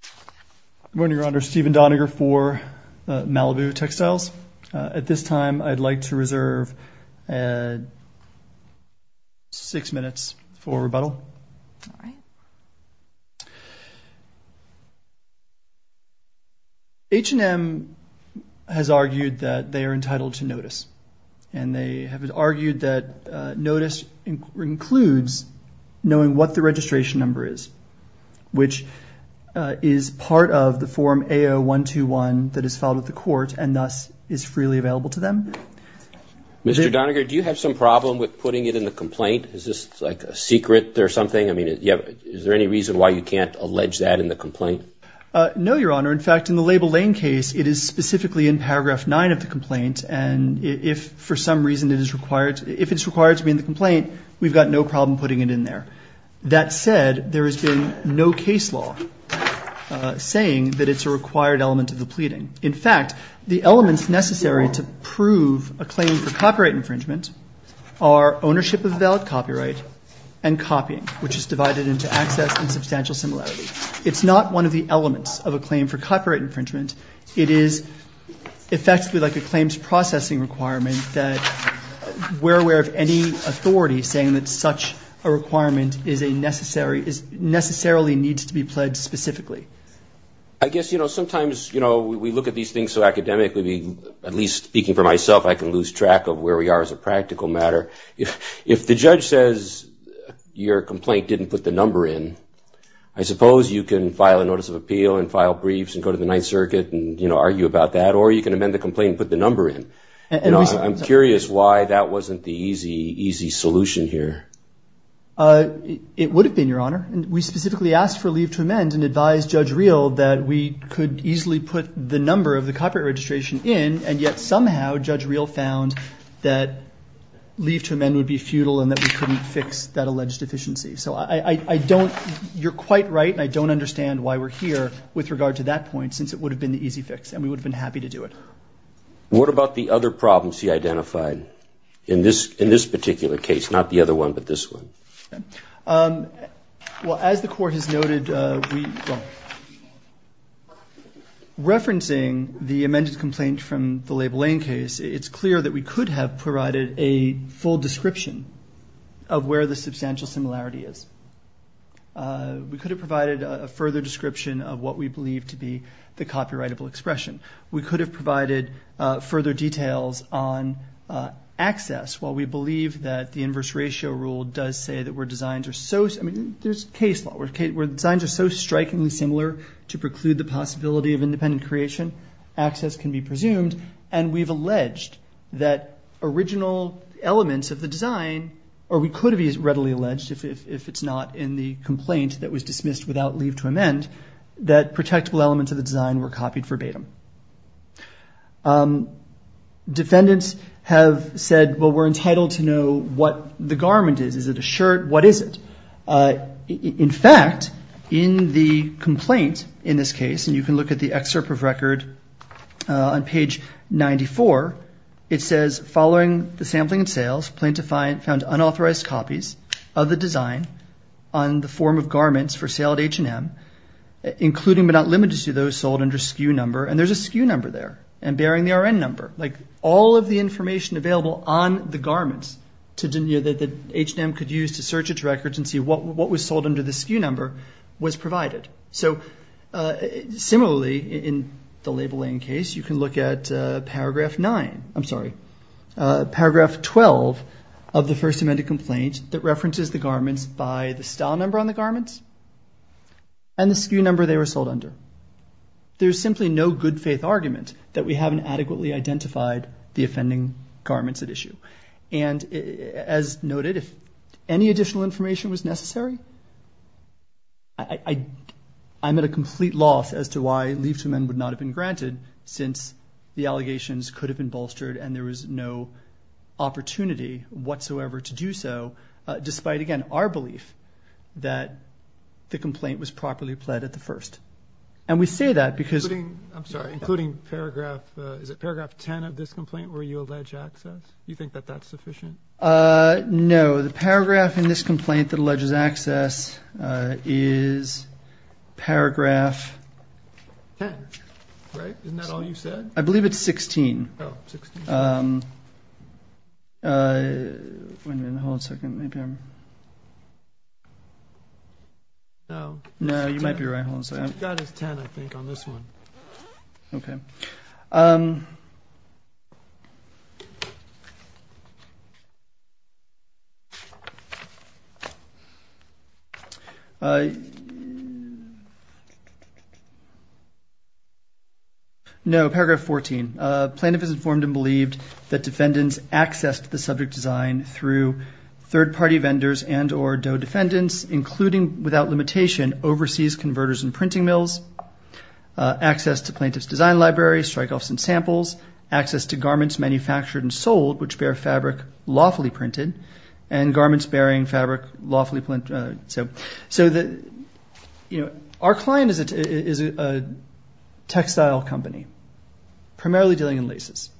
Good morning, Your Honor. Stephen Doniger for Malibu Textiles. At this time, I'd like to reserve six minutes for rebuttal. All right. H&M has argued that they are entitled to notice, and they have argued that notice includes knowing what the registration number is. Which is part of the Form AO-121 that is filed at the court, and thus is freely available to them. Mr. Doniger, do you have some problem with putting it in the complaint? Is this like a secret or something? I mean, is there any reason why you can't allege that in the complaint? No, Your Honor. In fact, in the Label Lane case, it is specifically in Paragraph 9 of the complaint, and if for some reason it is required to be in the complaint, we've got no problem putting it in there. That said, there has been no case law saying that it's a required element of the pleading. In fact, the elements necessary to prove a claim for copyright infringement are ownership of a valid copyright and copying, which is divided into access and substantial similarity. It's not one of the elements of a claim for copyright infringement. It is effectively like a claims processing requirement that we're aware of any authority saying that such a requirement necessarily needs to be pledged specifically. I guess, you know, sometimes, you know, we look at these things so academically, at least speaking for myself, I can lose track of where we are as a practical matter. If the judge says your complaint didn't put the number in, I suppose you can file a notice of appeal and file briefs and go to the Ninth Circuit and, you know, argue about that, or you can amend the complaint and put the number in. I'm curious why that wasn't the easy, easy solution here. It would have been, Your Honor. We specifically asked for leave to amend and advised Judge Reel that we could easily put the number of the copyright registration in, and yet somehow Judge Reel found that leave to amend would be futile and that we couldn't fix that alleged deficiency. So I don't – you're quite right, and I don't understand why we're here with regard to that point since it would have been the easy fix, and we would have been happy to do it. What about the other problems he identified in this particular case? Not the other one, but this one. Well, as the Court has noted, referencing the amended complaint from the Labelain case, it's clear that we could have provided a full description of where the substantial similarity is. We could have provided a further description of what we believe to be the copyrightable expression. We could have provided further details on access, while we believe that the inverse ratio rule does say that where designs are so – I mean, there's case law where designs are so strikingly similar to preclude the possibility of independent creation, access can be presumed, and we've alleged that original elements of the design – or we could have readily alleged, if it's not in the complaint that was dismissed without leave to amend, that protectable elements of the design were copied verbatim. Defendants have said, well, we're entitled to know what the garment is. Is it a shirt? What is it? In fact, in the complaint in this case, and you can look at the excerpt of record on page 94, it says, following the sampling and sales, plaintiff found unauthorized copies of the design on the form of garments for sale at H&M, including but not limited to those sold under SKU number, and there's a SKU number there and bearing the RN number. All of the information available on the garments that H&M could use to search its records and see what was sold under the SKU number was provided. Similarly, in the labeling case, you can look at paragraph 9 – I'm sorry, paragraph 12, of the First Amendment complaint that references the garments by the style number on the garments and the SKU number they were sold under. There's simply no good faith argument that we haven't adequately identified the offending garments at issue. And as noted, if any additional information was necessary, I'm at a complete loss as to why leave to amend would not have been granted since the allegations could have been bolstered and there was no opportunity whatsoever to do so, despite, again, our belief that the complaint was properly pled at the first. And we say that because – I'm sorry, including paragraph – is it paragraph 10 of this complaint where you allege access? Do you think that that's sufficient? No. The paragraph in this complaint that alleges access is paragraph – 10, right? Isn't that all you said? I believe it's 16. Oh, 16. Wait a minute. Hold on a second. Maybe I'm – No. No, you might be right. That is 10, I think, on this one. Okay. No, paragraph 14. Plaintiff is informed and believed that defendants accessed the subject design through third-party vendors and or DOE defendants, including without limitation overseas converters and printing mills, access to plaintiff's design library, strikeoffs and samples, access to garments manufactured and sold which bear fabric lawfully printed, and garments bearing fabric lawfully – So our client is a textile company primarily dealing in laces.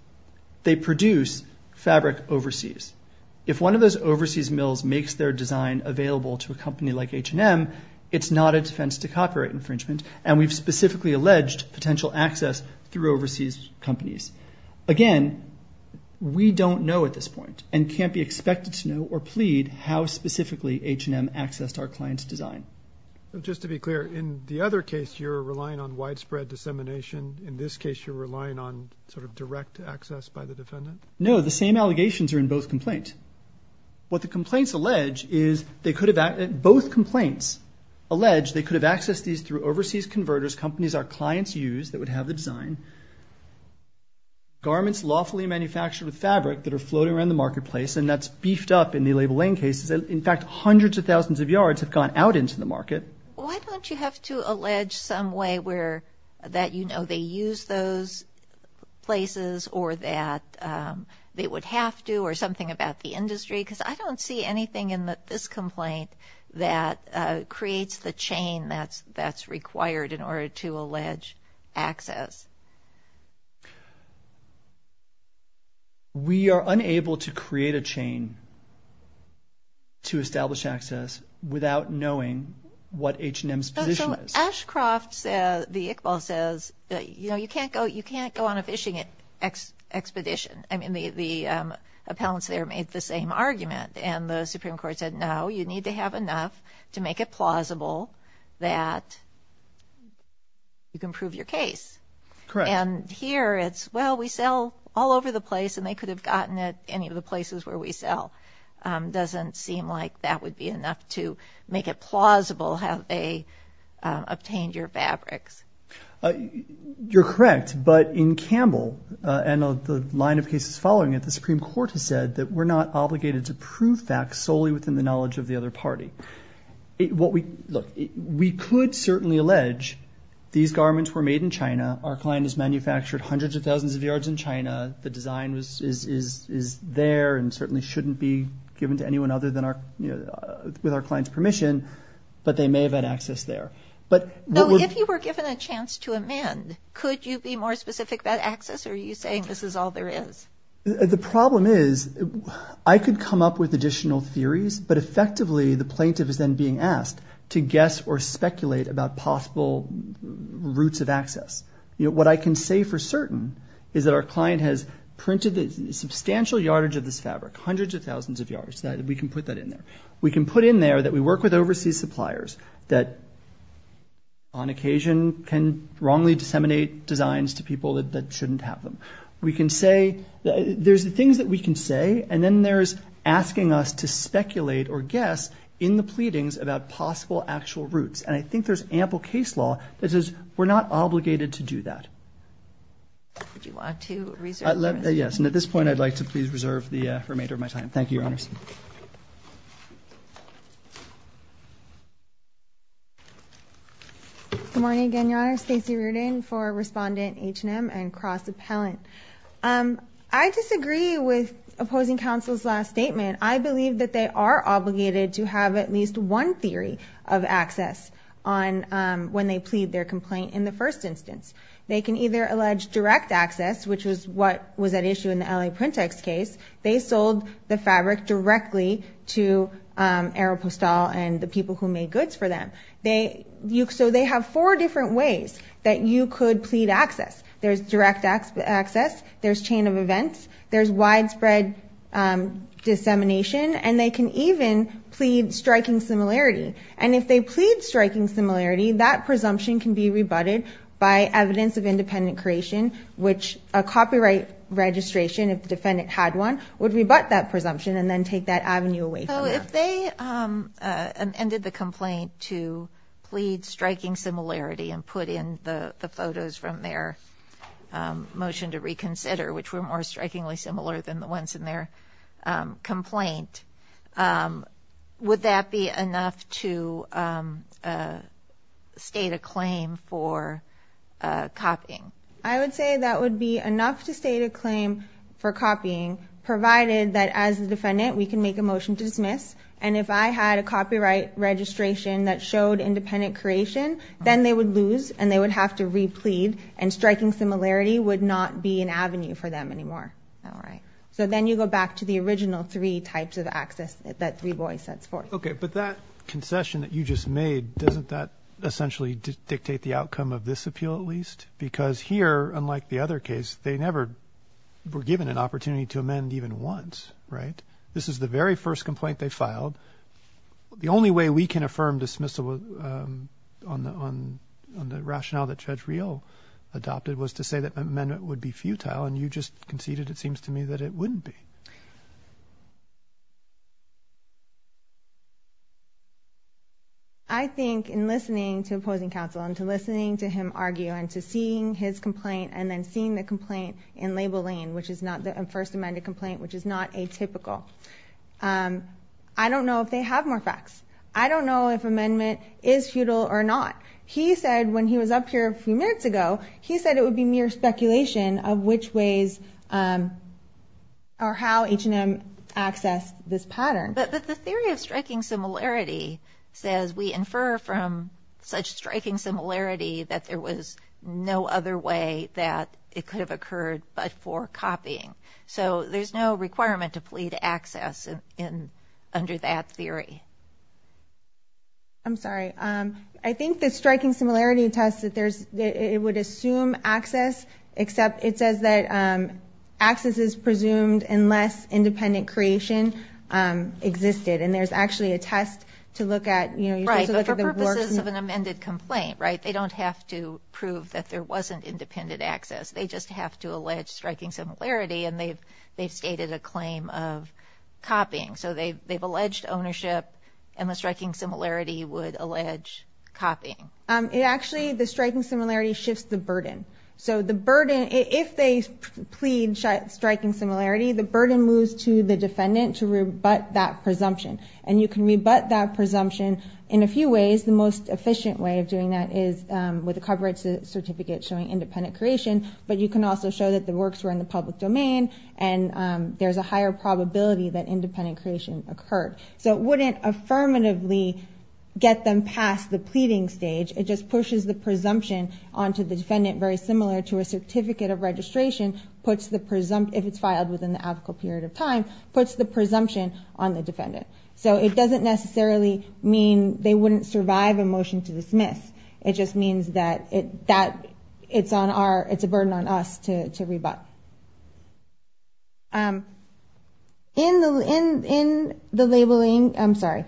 They produce fabric overseas. If one of those overseas mills makes their design available to a company like H&M, it's not a defense to copyright infringement, and we've specifically alleged potential access through overseas companies. Again, we don't know at this point and can't be expected to know or plead how specifically H&M accessed our client's design. Just to be clear, in the other case, you're relying on widespread dissemination. In this case, you're relying on sort of direct access by the defendant? No, the same allegations are in both complaints. What the complaints allege is they could have – both complaints allege they could have accessed these through overseas converters, companies our clients use that would have the design, garments lawfully manufactured with fabric that are floating around the marketplace, and that's beefed up in the label lane cases. In fact, hundreds of thousands of yards have gone out into the market. Why don't you have to allege some way where – that you know they use those places or that they would have to or something about the industry? Because I don't see anything in this complaint that creates the chain that's required in order to allege access. We are unable to create a chain to establish access without knowing what H&M's position is. Ashcroft, the Iqbal says, you know, you can't go on a fishing expedition. I mean, the appellants there made the same argument, and the Supreme Court said, no, you need to have enough to make it plausible that you can prove your case. Correct. And here it's, well, we sell all over the place, and they could have gotten it any of the places where we sell. It doesn't seem like that would be enough to make it plausible have they obtained your fabrics. You're correct, but in Campbell and the line of cases following it, the Supreme Court has said that we're not obligated to prove facts solely within the knowledge of the other party. Look, we could certainly allege these garments were made in China. Our client has manufactured hundreds of thousands of yards in China. The design is there and certainly shouldn't be given to anyone other than our, you know, with our client's permission, but they may have had access there. So if you were given a chance to amend, could you be more specific about access, or are you saying this is all there is? The problem is I could come up with additional theories, but effectively the plaintiff is then being asked to guess or speculate about possible routes of access. What I can say for certain is that our client has printed a substantial yardage of this fabric, hundreds of thousands of yards. We can put that in there. We can put in there that we work with overseas suppliers that on occasion can wrongly disseminate designs to people that shouldn't have them. We can say, there's things that we can say, and then there's asking us to speculate or guess in the pleadings about possible actual routes, and I think there's ample case law that says we're not obligated to do that. Would you like to reserve your time? Yes, and at this point I'd like to please reserve the remainder of my time. Thank you, Your Honors. Good morning again, Your Honor. Stacey Reardon for Respondent H&M and Cross Appellant. I disagree with opposing counsel's last statement. I believe that they are obligated to have at least one theory of access when they plead their complaint in the first instance. They can either allege direct access, which was what was at issue in the LA PrintEx case. They sold the fabric directly to Aeropostale and the people who made goods for them. So they have four different ways that you could plead access. There's direct access, there's chain of events, there's widespread dissemination, and they can even plead striking similarity. And if they plead striking similarity, that presumption can be rebutted by evidence of independent creation, which a copyright registration, if the defendant had one, would rebut that presumption and then take that avenue away from them. So if they amended the complaint to plead striking similarity and put in the photos from their motion to reconsider, which were more strikingly similar than the ones in their complaint, would that be enough to state a claim for copying? I would say that would be enough to state a claim for copying, provided that, as the defendant, we can make a motion to dismiss. And if I had a copyright registration that showed independent creation, then they would lose and they would have to replead, and striking similarity would not be an avenue for them anymore. All right. So then you go back to the original three types of access that Three Boys sets forth. Okay. But that concession that you just made, doesn't that essentially dictate the outcome of this appeal at least? Because here, unlike the other case, they never were given an opportunity to amend even once, right? This is the very first complaint they filed. The only way we can affirm dismissal on the rationale that Judge Riel adopted was to say that amendment would be futile, and you just conceded, it seems to me, that it wouldn't be. I think in listening to opposing counsel and to listening to him argue and to seeing his complaint and then seeing the complaint in label lane, which is not the first amended complaint, which is not atypical, I don't know if they have more facts. I don't know if amendment is futile or not. He said when he was up here a few minutes ago, he said it would be mere speculation of which ways or how H&M accessed this pattern. But the theory of striking similarity says we infer from such striking similarity that there was no other way that it could have occurred but for copying. So there's no requirement to plead access under that theory. I'm sorry. I think the striking similarity test, it would assume access, except it says that access is presumed unless independent creation existed, and there's actually a test to look at. Right, but for purposes of an amended complaint, right, they don't have to prove that there wasn't independent access. They just have to allege striking similarity, and they've stated a claim of copying. So they've alleged ownership, and the striking similarity would allege copying. Actually, the striking similarity shifts the burden. So the burden, if they plead striking similarity, the burden moves to the defendant to rebut that presumption. And you can rebut that presumption in a few ways. The most efficient way of doing that is with a copyright certificate showing independent creation, but you can also show that the works were in the public domain and there's a higher probability that independent creation occurred. So it wouldn't affirmatively get them past the pleading stage. It just pushes the presumption onto the defendant very similar to a certificate of registration, puts the presumption, if it's filed within the applicable period of time, puts the presumption on the defendant. So it doesn't necessarily mean they wouldn't survive a motion to dismiss. It just means that it's a burden on us to rebut. In the labeling, I'm sorry.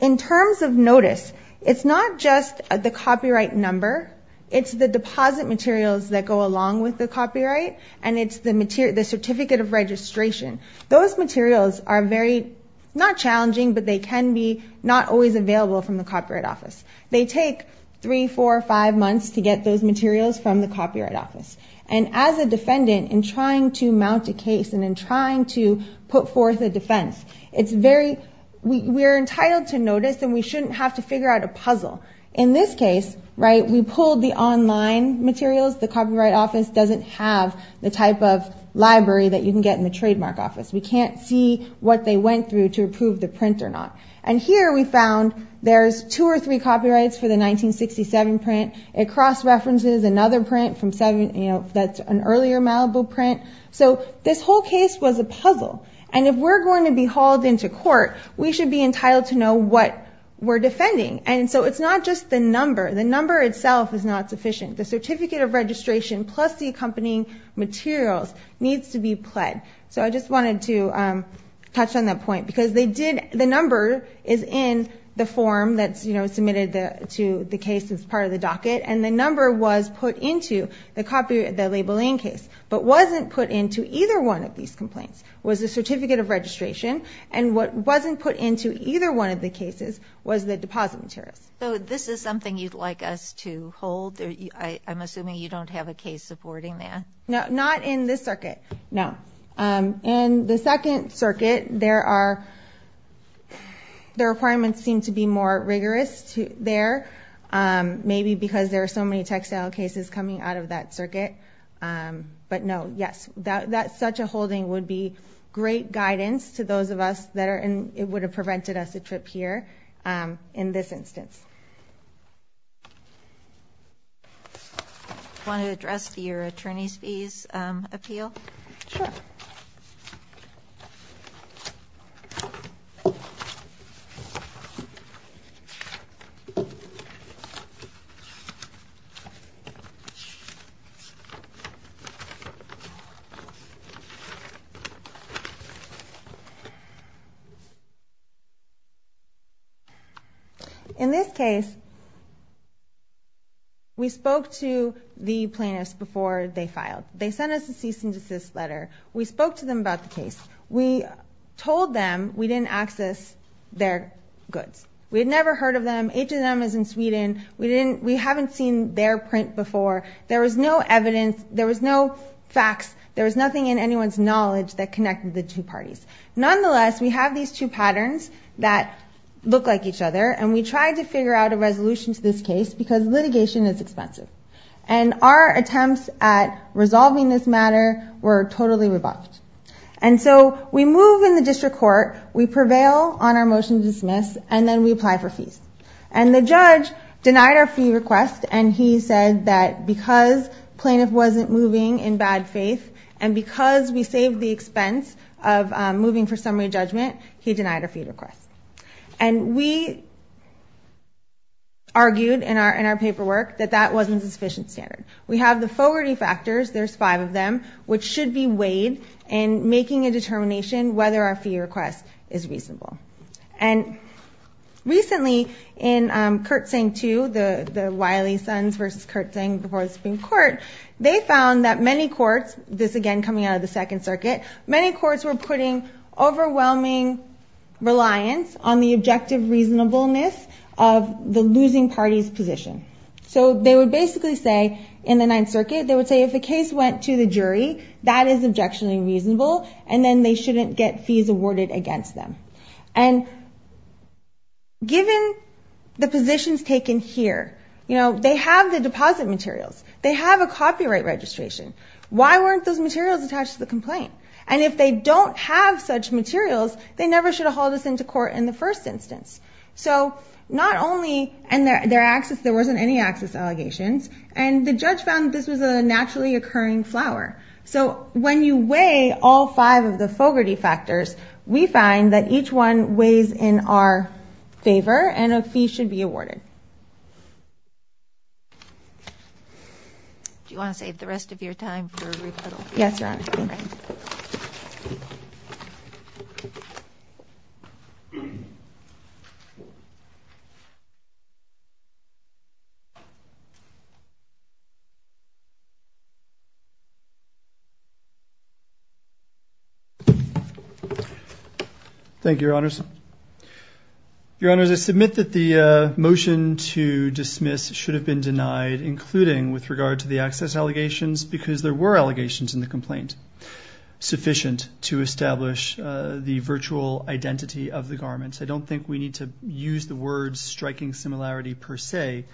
In terms of notice, it's not just the copyright number. It's the deposit materials that go along with the copyright, and it's the certificate of registration. Those materials are very, not challenging, but they can be not always available from the copyright office. They take three, four, five months to get those materials from the copyright office. And as a defendant, in trying to mount a case and in trying to put forth a defense, we're entitled to notice and we shouldn't have to figure out a puzzle. In this case, we pulled the online materials. The copyright office doesn't have the type of library that you can get in the trademark office. We can't see what they went through to approve the print or not. And here we found there's two or three copyrights for the 1967 print. It cross-references another print that's an earlier Malibu print. So this whole case was a puzzle. And if we're going to be hauled into court, we should be entitled to know what we're defending. And so it's not just the number. The number itself is not sufficient. The certificate of registration plus the accompanying materials needs to be pled. So I just wanted to touch on that point. Because the number is in the form that's submitted to the case as part of the docket. And the number was put into the labeling case. But wasn't put into either one of these complaints was the certificate of registration. And what wasn't put into either one of the cases was the deposit materials. So this is something you'd like us to hold? I'm assuming you don't have a case supporting that. No, not in this circuit. No. In the second circuit, there are the requirements seem to be more rigorous there. Maybe because there are so many textile cases coming out of that circuit. But, no, yes. Such a holding would be great guidance to those of us that it would have prevented us a trip here in this instance. Want to address your attorney's fees appeal? Sure. Okay. In this case, we spoke to the plaintiffs before they filed. They sent us a cease and desist letter. We told them we didn't access their goods. We had never heard of them. H&M is in Sweden. We haven't seen their print before. There was no evidence. There was no facts. There was nothing in anyone's knowledge that connected the two parties. Nonetheless, we have these two patterns that look like each other. And we tried to figure out a resolution to this case because litigation is expensive. And our attempts at resolving this matter were totally revoked. And so we move in the district court. We prevail on our motion to dismiss. And then we apply for fees. And the judge denied our fee request, and he said that because plaintiff wasn't moving in bad faith and because we saved the expense of moving for summary judgment, he denied our fee request. And we argued in our paperwork that that wasn't a sufficient standard. We have the forwarding factors. There's five of them, which should be weighed in making a determination whether our fee request is reasonable. And recently in Kurtzing II, the Wiley Sons versus Kurtzing before the Supreme Court, they found that many courts, this again coming out of the Second Circuit, many courts were putting overwhelming reliance on the objective reasonableness of the losing party's position. So they would basically say in the Ninth Circuit, they would say if the case went to the jury, that is objectionably reasonable, and then they shouldn't get fees awarded against them. And given the positions taken here, you know, they have the deposit materials. They have a copyright registration. Why weren't those materials attached to the complaint? And if they don't have such materials, they never should have hauled us into court in the first instance. So not only, and there wasn't any access allegations, and the judge found this was a naturally occurring flower. So when you weigh all five of the Fogarty factors, we find that each one weighs in our favor and a fee should be awarded. Do you want to save the rest of your time for rebuttal? Yes, Your Honor. Thank you, Your Honors. Your Honors, I submit that the motion to dismiss should have been denied, including with regard to the access allegations, because there were allegations in the complaint, sufficient to establish the virtual identity of the garments. I don't think we need to use the word striking similarity per se.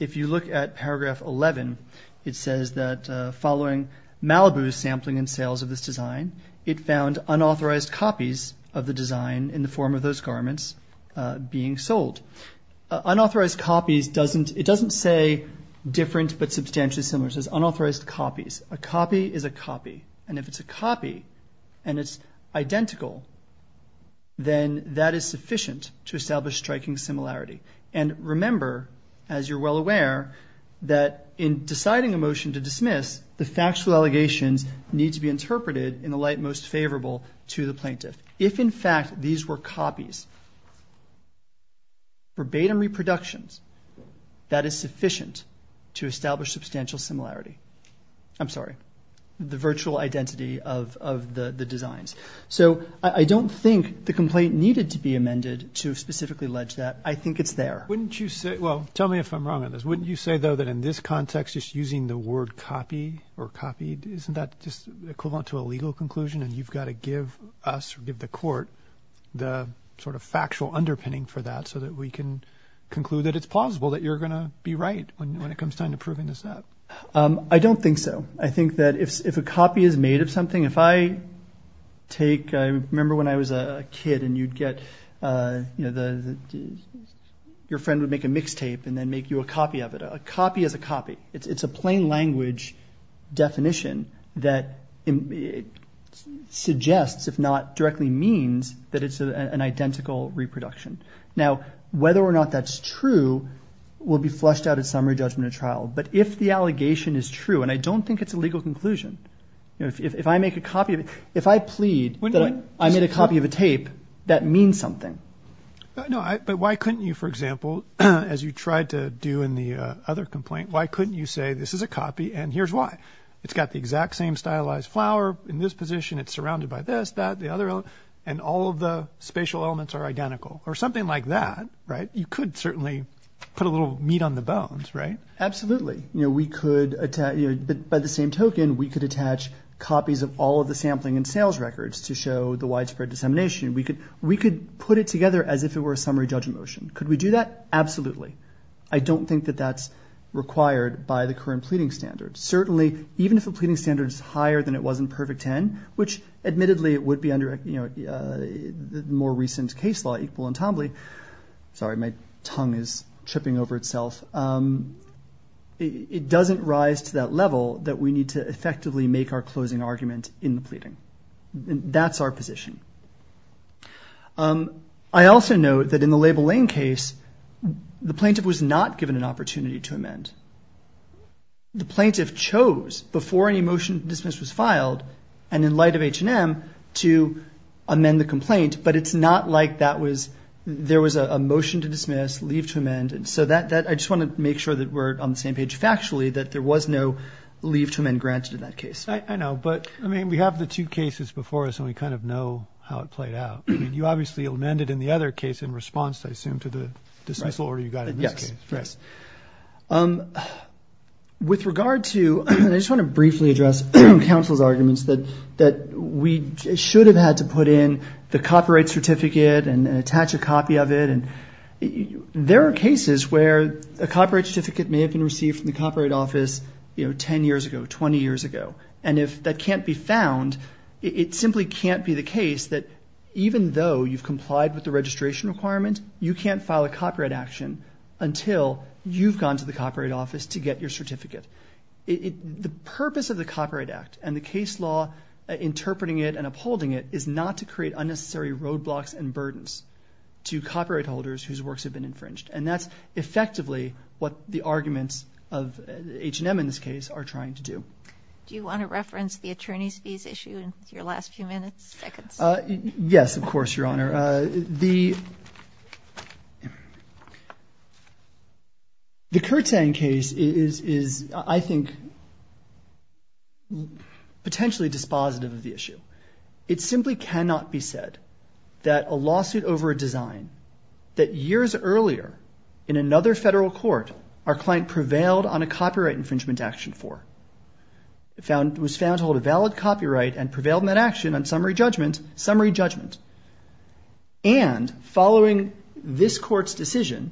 If you look at paragraph 11, it says that following Malibu's sampling and sales of this design, it found unauthorized copies of the design in the form of those garments being sold. Unauthorized copies doesn't, it doesn't say different but substantially similar. It says unauthorized copies. A copy is a copy, and if it's a copy and it's identical, then that is sufficient to establish striking similarity. And remember, as you're well aware, that in deciding a motion to dismiss, the factual allegations need to be interpreted in the light most favorable to the plaintiff. If, in fact, these were copies, verbatim reproductions, that is sufficient to establish substantial similarity. I'm sorry, the virtual identity of the designs. So I don't think the complaint needed to be amended to specifically allege that. I think it's there. Wouldn't you say, well, tell me if I'm wrong on this. Wouldn't you say, though, that in this context, just using the word copy or copied, isn't that just equivalent to a legal conclusion, and you've got to give us or give the court the sort of factual underpinning for that so that we can conclude that it's plausible that you're going to be right when it comes time to proving this out? I don't think so. I think that if a copy is made of something, if I take, I remember when I was a kid, and you'd get, you know, your friend would make a mixtape and then make you a copy of it. A copy is a copy. It's a plain language definition that suggests, if not directly means, that it's an identical reproduction. Now, whether or not that's true will be flushed out at summary judgment at trial. But if the allegation is true, and I don't think it's a legal conclusion, if I make a copy of it, if I plead that I made a copy of a tape, that means something. No, but why couldn't you, for example, as you tried to do in the other complaint, why couldn't you say this is a copy and here's why. It's got the exact same stylized flower in this position. It's surrounded by this, that, the other, and all of the spatial elements are identical or something like that, right? You could certainly put a little meat on the bones, right? Absolutely. You know, we could, by the same token, we could attach copies of all of the sampling and sales records to show the widespread dissemination. We could put it together as if it were a summary judgment motion. Could we do that? Absolutely. I don't think that that's required by the current pleading standards. Certainly, even if a pleading standard is higher than it was in Perfect Ten, which admittedly it would be under, you know, the more recent case law, Equal Entombly, sorry, my tongue is tripping over itself. It doesn't rise to that level that we need to effectively make our closing argument in the pleading. That's our position. I also note that in the Label Lane case, the plaintiff was not given an opportunity to amend. The plaintiff chose, before any motion to dismiss was filed, and in light of H&M, to amend the complaint, but it's not like that was, there was a motion to dismiss, leave to amend, and so that, I just want to make sure that we're on the same page factually, that there was no leave to amend granted in that case. I know, but, I mean, we have the two cases before us, and we kind of know how it played out. I mean, you obviously amended in the other case in response, I assume, to the dismissal order you got in this case. Yes, yes. With regard to, and I just want to briefly address counsel's arguments that we should have had to put in the copyright certificate and attach a copy of it. There are cases where a copyright certificate may have been received from the Copyright Office, you know, 10 years ago, 20 years ago, and if that can't be found, it simply can't be the case that even though you've complied with the registration requirement, you can't file a copyright action until you've gone to the Copyright Office to get your certificate. The purpose of the Copyright Act and the case law interpreting it and upholding it is not to create unnecessary roadblocks and burdens to copyright holders whose works have been infringed, and that's effectively what the arguments of H&M in this case are trying to do. Do you want to reference the attorney's visa issue in your last few minutes, seconds? Yes, of course, Your Honor. The Kurtzang case is, I think, potentially dispositive of the issue. It simply cannot be said that a lawsuit over a design that years earlier in another federal court our client prevailed on a copyright infringement action for was found to hold a valid copyright and prevailed in that action on summary judgment, summary judgment, and following this court's decision,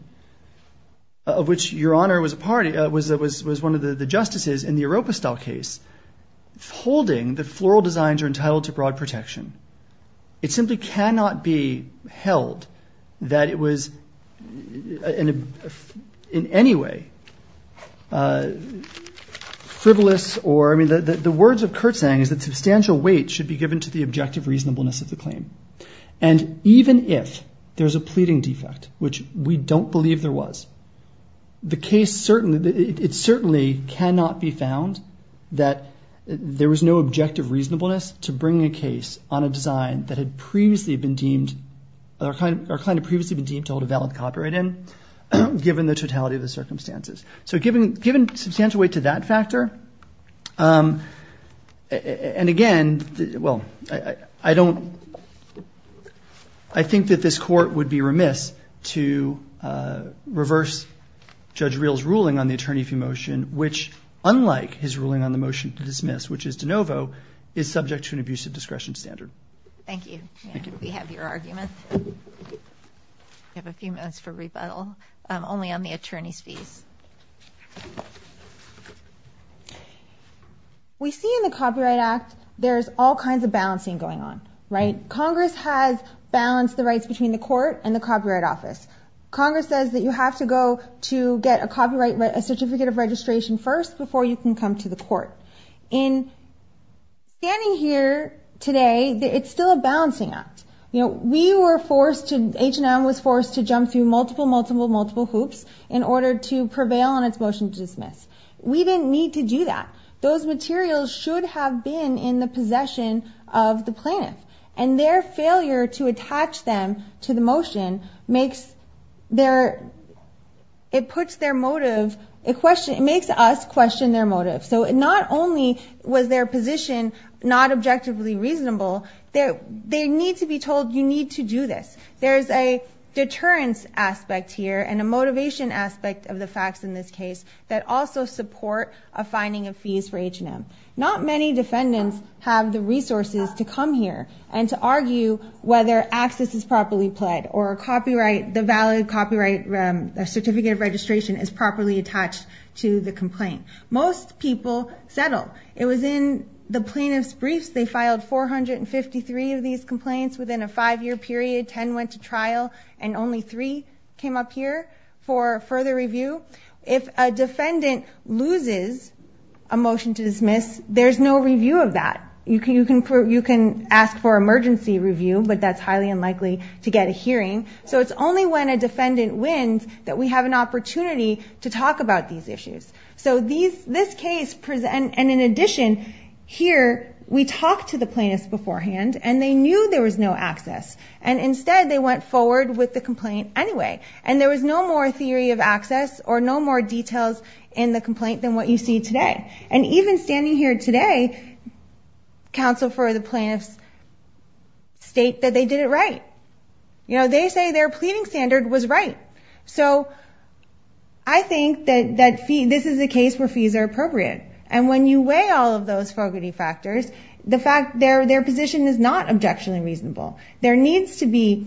of which Your Honor was a party, was one of the justices in the Oropistal case, holding that floral designs are entitled to broad protection. It simply cannot be held that it was in any way frivolous or, I mean, the words of Kurtzang is that substantial weight should be given to the objective reasonableness of the claim. And even if there's a pleading defect, which we don't believe there was, the case certainly, it certainly cannot be found that there was no objective reasonableness to bring a case on a design that had previously been deemed, our client had previously been deemed to hold a valid copyright in, given the totality of the circumstances. So given substantial weight to that factor, and again, well, I don't, I think that this court would be remiss to reverse Judge Reel's ruling on the attorney fee motion, which unlike his ruling on the motion to dismiss, which is de novo, is subject to an abusive discretion standard. Thank you. Thank you. We have your argument. We have a few minutes for rebuttal, only on the attorney's fees. We see in the Copyright Act, there's all kinds of balancing going on, right? Congress has balanced the rights between the court and the Copyright Office. Congress says that you have to go to get a copyright, a certificate of registration first before you can come to the court. In standing here today, it's still a balancing act. You know, we were forced to, H&M was forced to jump through multiple, multiple, multiple hoops in order to prevail on its motion to dismiss. We didn't need to do that. Those materials should have been in the possession of the plaintiff, and their failure to attach them to the motion makes their, it puts their motive, it makes us question their motive. So not only was their position not objectively reasonable, they need to be told, you need to do this. There's a deterrence aspect here and a motivation aspect of the facts in this case that also support a finding of fees for H&M. Not many defendants have the resources to come here and to argue whether access is properly pled or a copyright, the valid copyright, a certificate of registration is properly attached to the complaint. Most people settle. It was in the plaintiff's briefs. They filed 453 of these complaints within a five-year period. Ten went to trial, and only three came up here for further review. If a defendant loses a motion to dismiss, there's no review of that. You can ask for emergency review, but that's highly unlikely to get a hearing. So it's only when a defendant wins that we have an opportunity to talk about these issues. So this case, and in addition, here, we talked to the plaintiffs beforehand, and they knew there was no access. And instead, they went forward with the complaint anyway. And there was no more theory of access or no more details in the complaint than what you see today. And even standing here today, counsel for the plaintiffs state that they did it right. You know, they say their pleading standard was right. So I think that this is a case where fees are appropriate. And when you weigh all of those fogarty factors, their position is not objectionably reasonable. There needs to be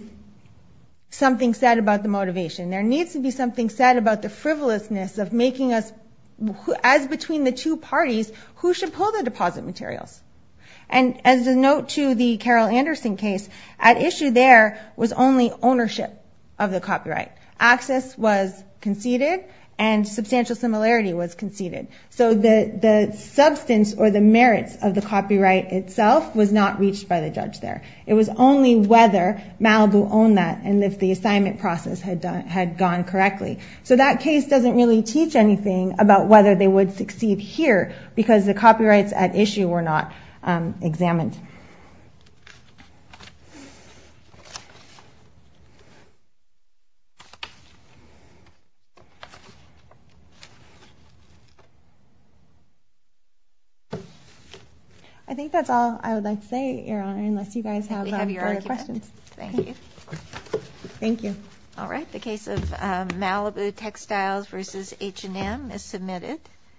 something said about the motivation. There needs to be something said about the frivolousness of making us, as between the two parties, who should pull the deposit materials. And as a note to the Carol Anderson case, at issue there was only ownership of the copyright. Access was conceded, and substantial similarity was conceded. So the substance or the merits of the copyright itself was not reached by the judge there. It was only whether Malibu owned that and if the assignment process had gone correctly. So that case doesn't really teach anything about whether they would succeed here, because the copyrights at issue were not examined. I think that's all I would like to say, Your Honor, unless you guys have any further questions. Thank you. Thank you. All right, the case of Malibu Textiles v. H&M is submitted.